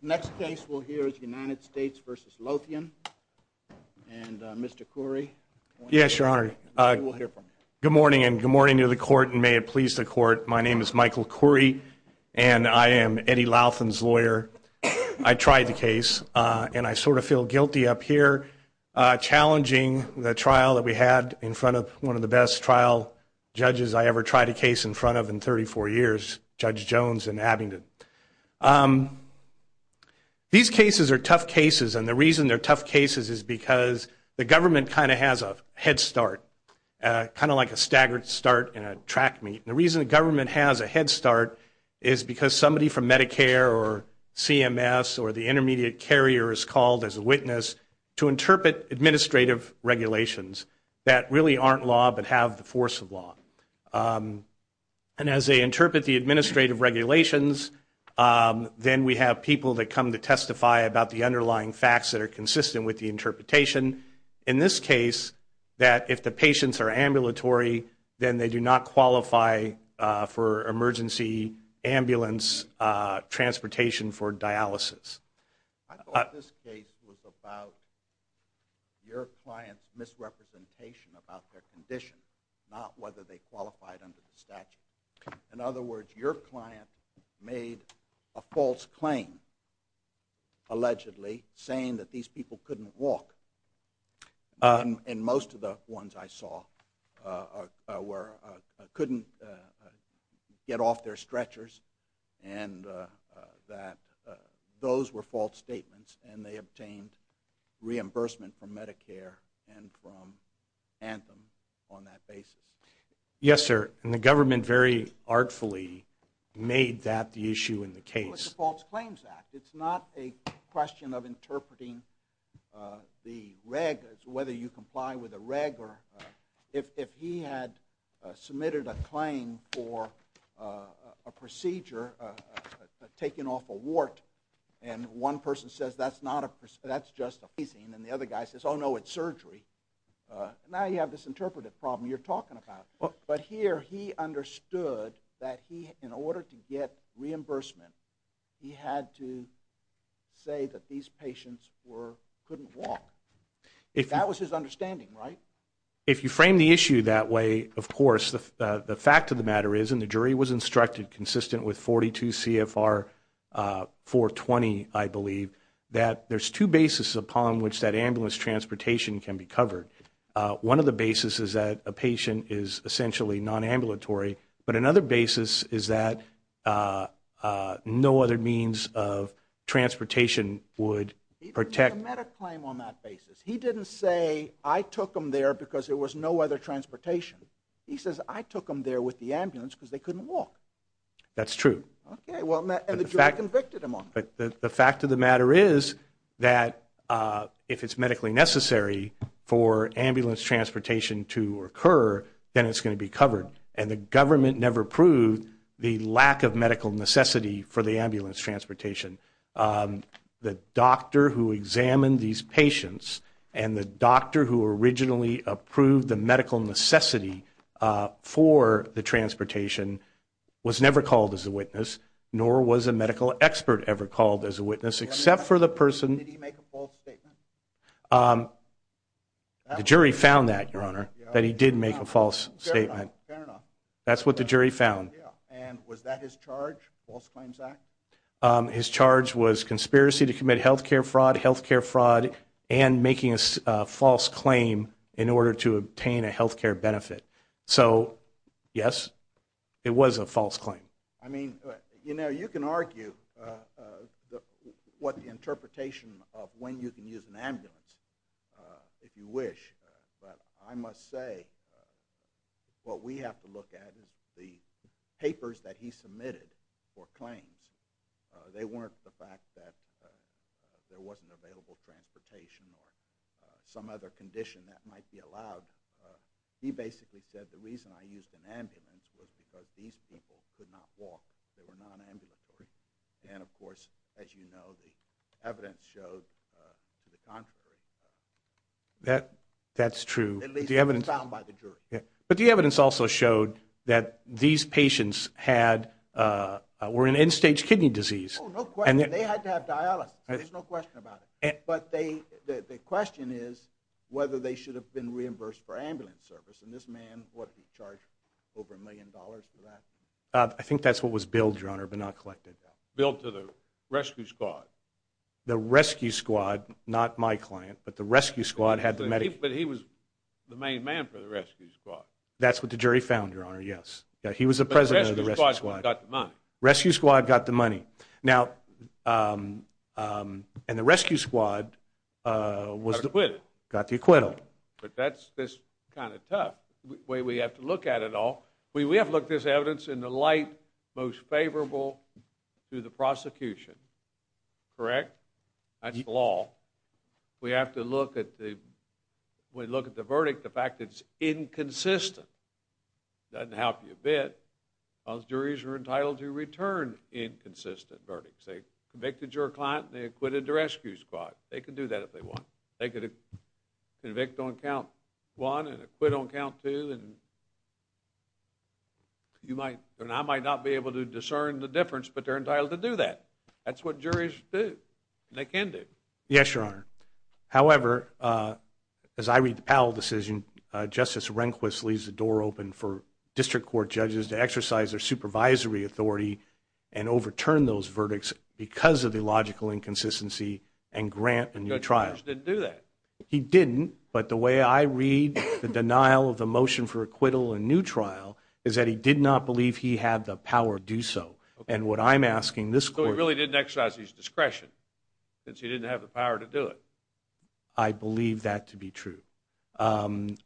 Next case we'll hear is United States v. Louthian. And Mr. Khoury. Yes, Your Honor. We'll hear from you. Good morning, and good morning to the Court, and may it please the Court. My name is Michael Khoury, and I am Eddie Louthian's lawyer. I tried the case, and I sort of feel guilty up here, challenging the trial that we had in front of one of the best trial judges I ever tried a case in front of in 34 years, Judge Jones in Abingdon. These cases are tough cases, and the reason they're tough cases is because the government kind of has a head start, kind of like a staggered start in a track meet. And the reason the government has a head start is because somebody from Medicare or CMS or the intermediate carrier is called as a witness to interpret administrative regulations that really aren't law but have the force of law. And as they interpret the administrative regulations, then we have people that come to testify about the underlying facts that are consistent with the interpretation. In this case, that if the patients are ambulatory, then they do not qualify for emergency ambulance transportation for dialysis. I thought this case was about your client's misrepresentation about their condition, not whether they qualified under the statute. In other words, your client made a false claim, allegedly, saying that these people couldn't walk. And most of the ones I saw couldn't get off their stretchers and that those were false statements, and they obtained reimbursement from Medicare and from Anthem on that basis. Yes, sir. And the government very artfully made that the issue in the case. Well, it's a False Claims Act. It's not a question of interpreting the reg as whether you comply with a reg. However, if he had submitted a claim for a procedure, taking off a wart, and one person says, that's just a phasing, and the other guy says, oh, no, it's surgery, now you have this interpretive problem you're talking about. But here he understood that in order to get reimbursement, he had to say that these patients couldn't walk. That was his understanding, right? If you frame the issue that way, of course, the fact of the matter is, and the jury was instructed consistent with 42 CFR 420, I believe, that there's two basis upon which that ambulance transportation can be covered. One of the basis is that a patient is essentially non-ambulatory, but another basis is that no other means of transportation would protect. He didn't make a claim on that basis. He didn't say, I took them there because there was no other transportation. He says, I took them there with the ambulance because they couldn't walk. That's true. Okay, well, and the jury convicted him on that. But the fact of the matter is that if it's medically necessary for ambulance transportation to occur, then it's going to be covered. And the government never proved the lack of medical necessity for the ambulance transportation. The doctor who examined these patients and the doctor who originally approved the medical necessity for the transportation was never called as a witness, nor was a medical expert ever called as a witness except for the person. Did he make a false statement? The jury found that, Your Honor, that he did make a false statement. Fair enough. That's what the jury found. And was that his charge, False Claims Act? His charge was conspiracy to commit health care fraud, health care fraud, and making a false claim in order to obtain a health care benefit. So, yes, it was a false claim. I mean, you know, you can argue what the interpretation of when you can use an ambulance, if you wish, but I must say what we have to look at is the papers that he submitted for claims. They weren't the fact that there wasn't available transportation or some other condition that might be allowed. He basically said the reason I used an ambulance was because these people could not walk. They were non-ambulatory. And, of course, as you know, the evidence showed to the contrary. That's true. At least it was found by the jury. But the evidence also showed that these patients were in end-stage kidney disease. Oh, no question. They had to have dialysis. There's no question about it. But the question is whether they should have been reimbursed for ambulance service. And this man, what, he charged over a million dollars for that? I think that's what was billed, Your Honor, but not collected. Billed to the rescue squad. The rescue squad, not my client, but the rescue squad had the medical. But he was the main man for the rescue squad. That's what the jury found, Your Honor, yes. He was the president of the rescue squad. But the rescue squad got the money. Rescue squad got the money. Now, and the rescue squad got the acquittal. But that's kind of tough. We have to look at it all. We have to look at this evidence in the light most favorable to the prosecution. Correct? That's the law. We have to look at the verdict, the fact that it's inconsistent. Doesn't help you a bit. Because juries are entitled to return inconsistent verdicts. They convicted your client and they acquitted the rescue squad. They can do that if they want. They could convict on count one and acquit on count two. And you might or I might not be able to discern the difference, but they're entitled to do that. That's what juries do, and they can do. Yes, Your Honor. However, as I read the Powell decision, Justice Rehnquist leaves the door open for district court judges to exercise their supervisory authority and overturn those verdicts because of the logical inconsistency and grant a new trial. The judge didn't do that. He didn't. But the way I read the denial of the motion for acquittal and new trial is that he did not believe he had the power to do so. And what I'm asking this court to do. So he really didn't exercise his discretion, since he didn't have the power to do it. I believe that to be true. Judge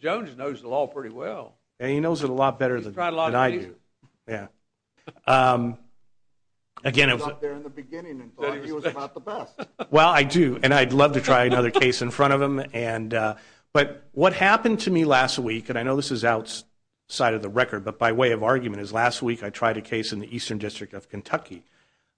Jones knows the law pretty well. He knows it a lot better than I do. He's tried a lot of things. Yeah. He was out there in the beginning and thought he was about the best. Well, I do, and I'd love to try another case in front of him. But what happened to me last week, and I know this is outside of the record, but by way of argument is last week I tried a case in the Eastern District of Kentucky.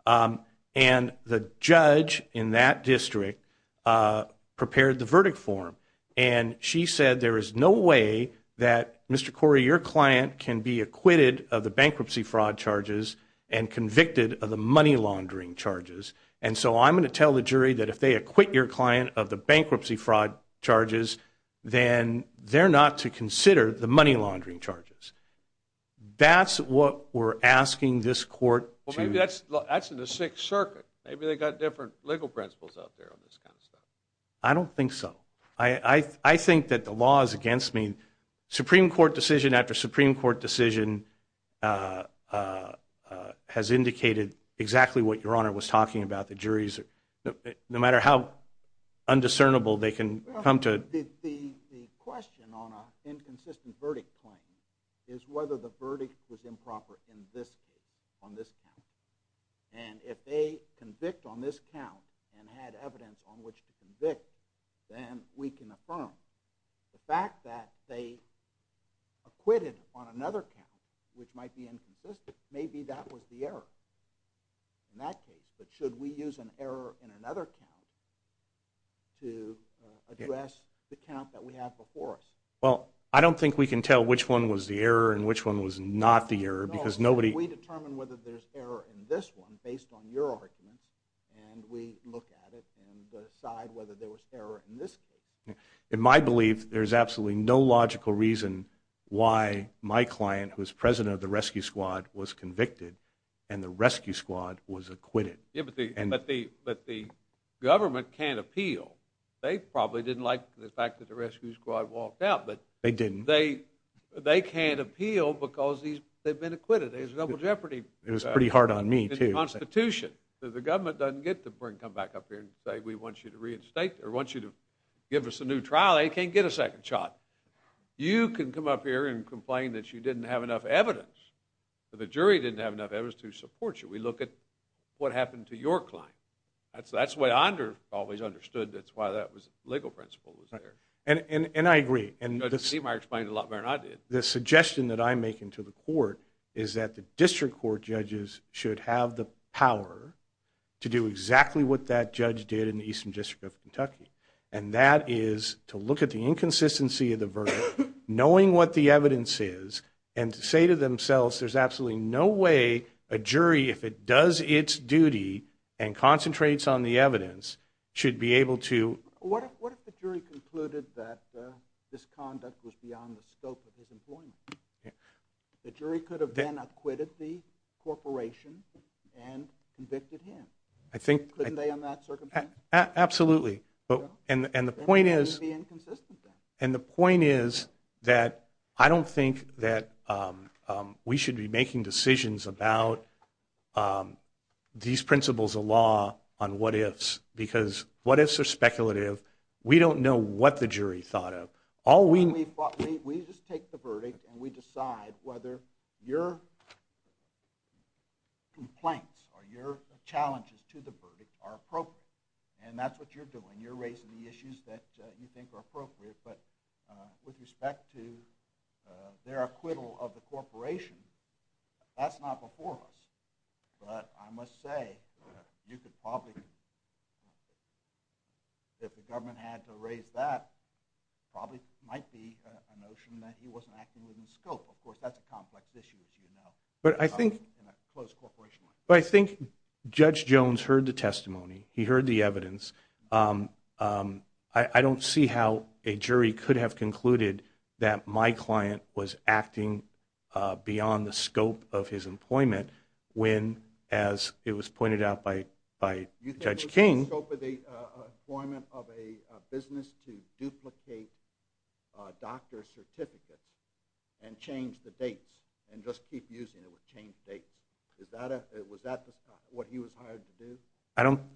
And the judge in that district prepared the verdict form, and she said there is no way that, Mr. Corey, your client can be acquitted of the bankruptcy fraud charges and convicted of the money laundering charges. And so I'm going to tell the jury that if they acquit your client of the bankruptcy fraud charges, then they're not to consider the money laundering charges. That's what we're asking this court to do. Well, maybe that's in the Sixth Circuit. Maybe they've got different legal principles out there on this kind of stuff. I don't think so. I think that the law is against me. Supreme Court decision after Supreme Court decision has indicated exactly what Your Honor was talking about. The juries, no matter how undiscernible they can come to. The question on an inconsistent verdict claim is whether the verdict was And if they convict on this count and had evidence on which to convict, then we can affirm the fact that they acquitted on another count, which might be inconsistent. Maybe that was the error in that case. But should we use an error in another count to address the count that we have before us? Well, I don't think we can tell which one was the error and which one was not the error because nobody. We determine whether there's error in this one based on your arguments, and we look at it and decide whether there was error in this case. In my belief, there's absolutely no logical reason why my client, who is president of the Rescue Squad, was convicted, and the Rescue Squad was acquitted. Yeah, but the government can't appeal. They probably didn't like the fact that the Rescue Squad walked out. They didn't. They can't appeal because they've been acquitted. It's a double jeopardy. It was pretty hard on me, too. In the Constitution. The government doesn't get to come back up here and say, we want you to reinstate or want you to give us a new trial. They can't get a second shot. You can come up here and complain that you didn't have enough evidence, that the jury didn't have enough evidence to support you. We look at what happened to your client. That's the way I always understood that's why that legal principle was there. And I agree. You explained it a lot better than I did. The suggestion that I'm making to the court is that the district court judges should have the power to do exactly what that judge did in the Eastern District of Kentucky. And that is to look at the inconsistency of the verdict, knowing what the evidence is, and to say to themselves, there's absolutely no way a jury, if it does its duty and concentrates on the evidence, should be able to. What if the jury concluded that this conduct was beyond the scope of his employment? The jury could have then acquitted the corporation and convicted him. Couldn't they on that circumstance? Absolutely. And the point is that I don't think that we should be making decisions about these principles of law on what ifs, because what ifs are speculative. We don't know what the jury thought of. We just take the verdict and we decide whether your complaints or your challenges to the verdict are appropriate. And that's what you're doing. You're raising the issues that you think are appropriate. But with respect to their acquittal of the corporation, that's not before us. But I must say, if the government had to raise that, it probably might be a notion that he wasn't acting within the scope. Of course, that's a complex issue, as you know. But I think Judge Jones heard the testimony. He heard the evidence. I don't see how a jury could have concluded that my client was acting beyond the scope of his employment when, as it was pointed out by Judge King. Within the scope of the employment of a business to duplicate doctor certificates and change the dates and just keep using it would change dates. Was that what he was hired to do?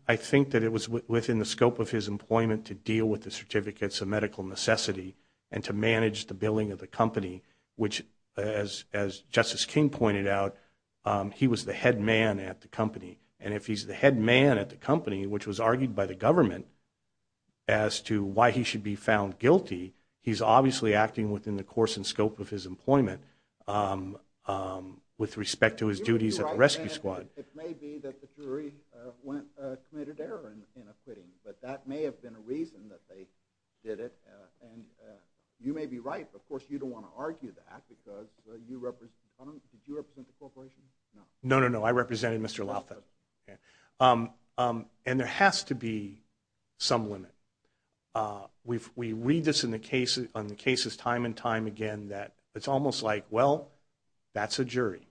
I think that it was within the scope of his employment to deal with the certificates of medical necessity and to manage the billing of the company, which, as Justice King pointed out, he was the head man at the company. And if he's the head man at the company, which was argued by the government as to why he should be found guilty, he's obviously acting within the course and scope of his employment with respect to his duties at the rescue squad. It may be that the jury committed error in acquitting, but that may have been a reason that they did it. And you may be right. Of course, you don't want to argue that because you represent the corporation? No, no, no. I represented Mr. Lotha. And there has to be some limit. We read this on the cases time and time again that it's almost like, well, that's a jury.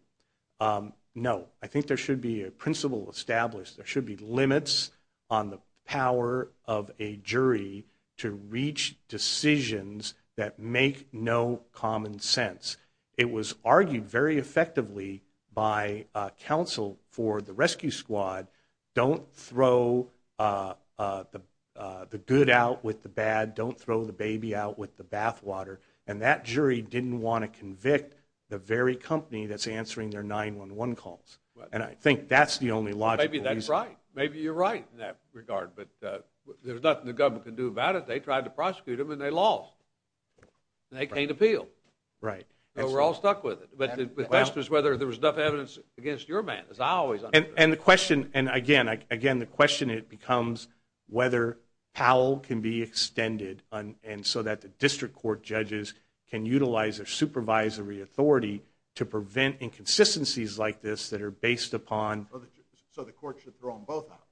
No, I think there should be a principle established. There should be limits on the power of a jury to reach decisions that make no common sense. It was argued very effectively by counsel for the rescue squad, don't throw the good out with the bad, don't throw the baby out with the bathwater. And that jury didn't want to convict the very company that's answering their 911 calls. And I think that's the only logical reason. Maybe that's right. Maybe you're right in that regard. But there's nothing the government can do about it. They tried to prosecute him and they lost. They can't appeal. Right. So we're all stuck with it. But the question is whether there was enough evidence against your man, as I always understood. And the question, and again, the question becomes whether Powell can be extended so that the district court judges can utilize their supervisory authority to prevent inconsistencies like this that are based upon. So the court should throw them both out.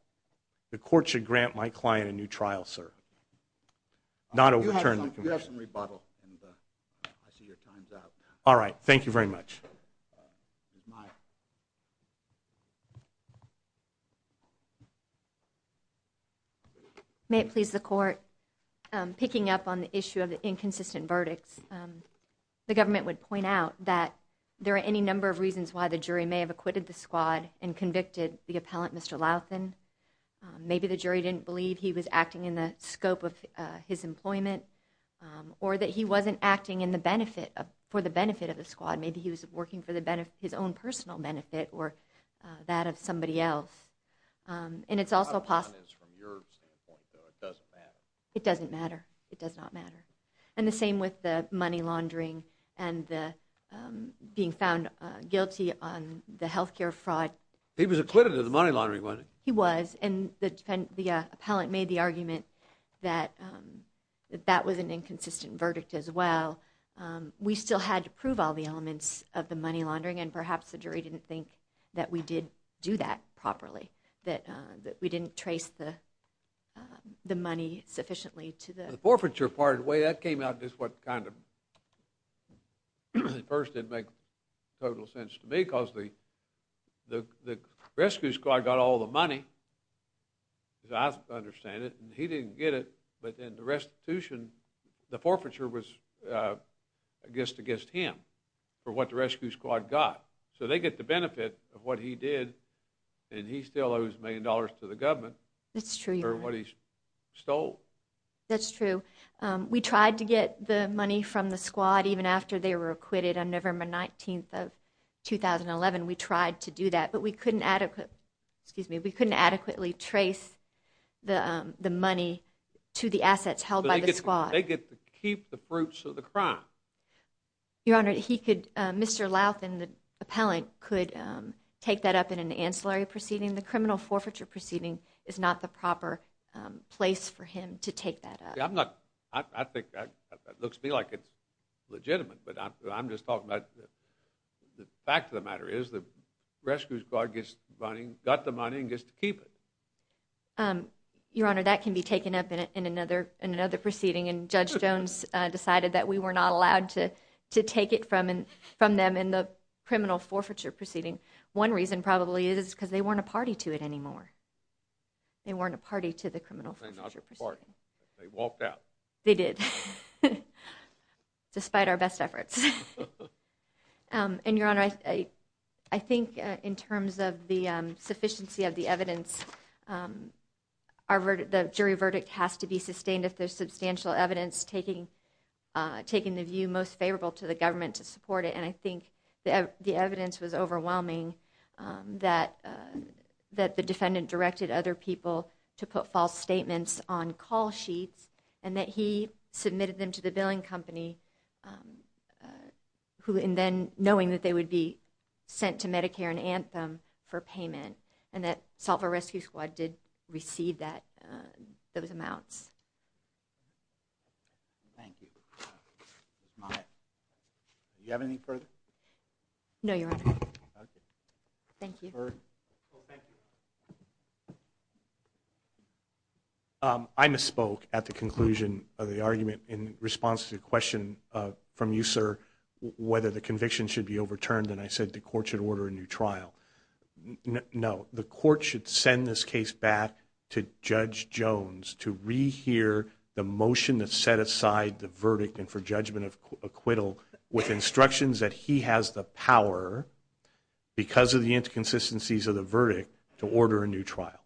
The court should grant my client a new trial, sir. Not overturn the conviction. You have some rebuttal. I see your time's up. All right. Thank you very much. Ms. Meyer. May it please the court, picking up on the issue of the inconsistent verdicts, the government would point out that there are any number of reasons why the jury may have acquitted the squad and convicted the appellant, Mr. Louthan. Maybe the jury didn't believe he was acting in the scope of his employment or that he wasn't acting in the benefit, for the benefit of the squad. Maybe he was working for the benefit, his own personal benefit or that of somebody else. And it's also possible. It doesn't matter. It does not matter. And the same with the money laundering and the being found guilty on the healthcare fraud. He was acquitted of the money laundering. He was. And the defendant, the appellant made the argument that that was an inconsistent verdict as well. We still had to prove all the elements of the money laundering. And perhaps the jury didn't think that we did do that properly, that we didn't trace the money sufficiently to the... The forfeiture part, the way that came out is what kind of at first didn't make total sense to me because the rescue squad got all the money, as I understand it, and he didn't get it. But then the restitution, the forfeiture was against him for what the rescue squad got. So they get the benefit of what he did and he still owes a million dollars to the government for what he stole. That's true. We tried to get the money from the squad even after they were acquitted on November 19th of 2011. We tried to do that, but we couldn't adequately, excuse me, we couldn't adequately trace the money to the assets held by the squad. They get to keep the fruits of the crime. Your Honor, he could, Mr. Louth and the appellant could take that up in an ancillary proceeding. The criminal forfeiture proceeding is not the proper place for him to take that up. I'm not, I think that looks to me like it's legitimate, but I'm just talking about the fact of the matter is the rescue squad gets money, got the money and gets to keep it. Your Honor, that can be taken up in another proceeding and Judge Jones decided that we were not allowed to take it from them in the criminal forfeiture proceeding. One reason probably is because they weren't a party to it anymore. They weren't a party to the criminal forfeiture proceeding. They walked out. They did. Despite our best efforts. And Your Honor, I, I think in terms of the sufficiency of the evidence, um, our verdict, the jury verdict has to be sustained if there's substantial evidence taking, uh, taking the view most favorable to the government to support it. And I think that the evidence was overwhelming, um, that, uh, that the defendant directed other people to put false statements on call sheets and that he submitted them to the billing company, um, uh, who, and then knowing that they would be sent to Medicare and Anthem for payment and that solve a rescue squad did receive that, uh, those amounts. Thank you. Do you have any further? Your Honor. Okay. Thank you. Thank you. Um, I misspoke at the conclusion of the argument in response to the question, uh, from you, sir, whether the conviction should be overturned. And I said, the court should order a new trial. No, the court should send this case back to judge Jones to rehear the motion that set aside the verdict. And for judgment of acquittal with instructions that he has the power because of the inconsistencies of the verdict to order a new trial.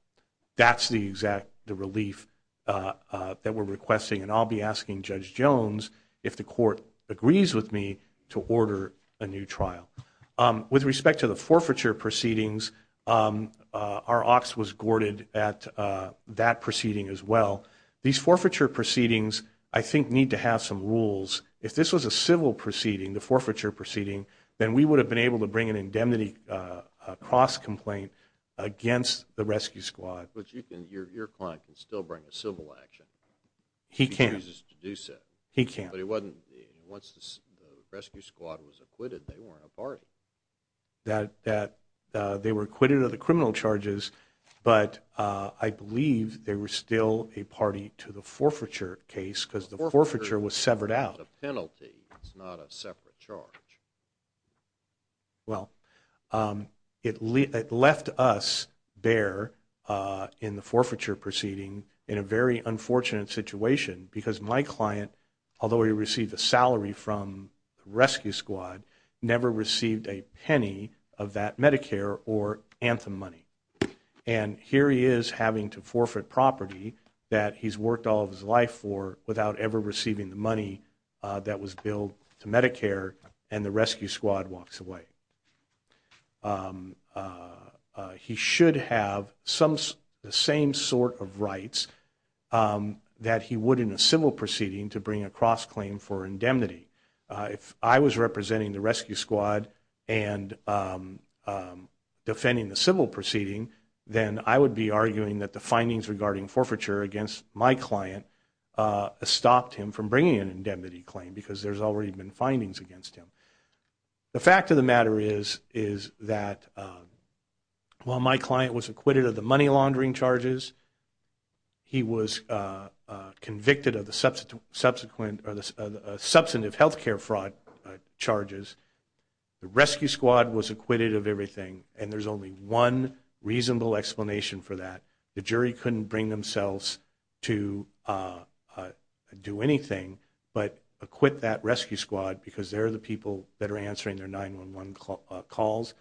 That's the exact, the relief, uh, uh, that we're requesting. And I'll be asking judge Jones if the court agrees with me to order a new trial. Um, with respect to the forfeiture proceedings, um, uh, our ox was gourded at, uh, that proceeding as well. These forfeiture proceedings, I think need to have some rules. If this was a civil proceeding, the forfeiture proceeding, then we would have been able to bring an indemnity, uh, a cross complaint against the rescue squad. But you can, your, your client can still bring a civil action. He can't use it. He can't, but it wasn't once the rescue squad was acquitted, they weren't a party that, that, uh, they were acquitted of the criminal charges. But, uh, I believe they were still a party to the forfeiture case because the forfeiture was severed out a penalty. It's not a separate charge. Well, um, it, it left us bare, uh, in the forfeiture proceeding in a very unfortunate situation because my client, although he received a salary from rescue squad, never received a penny of that Medicare or Anthem money. And here he is having to forfeit property that he's worked all of his life for without ever receiving the money, uh, that was billed to Medicare and the rescue squad walks away. Um, uh, uh, he should have some, the same sort of rights, um, that he would in a civil proceeding to bring a cross claim for indemnity. Uh, if I was representing the rescue squad and, um, um, defending the civil proceeding, then I would be arguing that the findings regarding forfeiture against my client, uh, stopped him from bringing an indemnity claim because there's already been findings against him. The fact of the matter is, is that, um, well, my client was acquitted of the money laundering charges. He was, uh, uh, convicted of the subsequent, subsequent or the, uh, substantive healthcare fraud, uh, charges. The rescue squad was acquitted of everything. And there's only one reasonable explanation for that. The jury couldn't bring themselves to, uh, uh, do anything, but acquit that rescue squad because they're the people that are answering their 911 calls.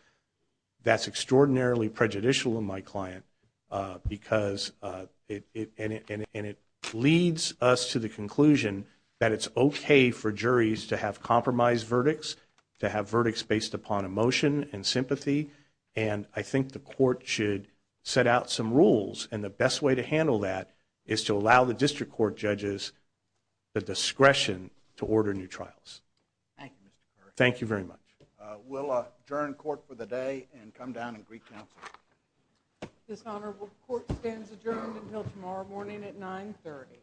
That's extraordinarily prejudicial in my client, uh, because, uh, it, and it, and it leads us to the conclusion that it's okay for juries to have compromised verdicts, to have verdicts based upon emotion and sympathy. And I think the court should set out some rules. And the best way to handle that is to allow the district court judges the discretion to order new trials. Thank you, Mr. Thank you very much. Uh, we'll, uh, adjourn court for the day and come down and greet counsel. Dishonorable. Court stands adjourned until tomorrow morning at nine 30.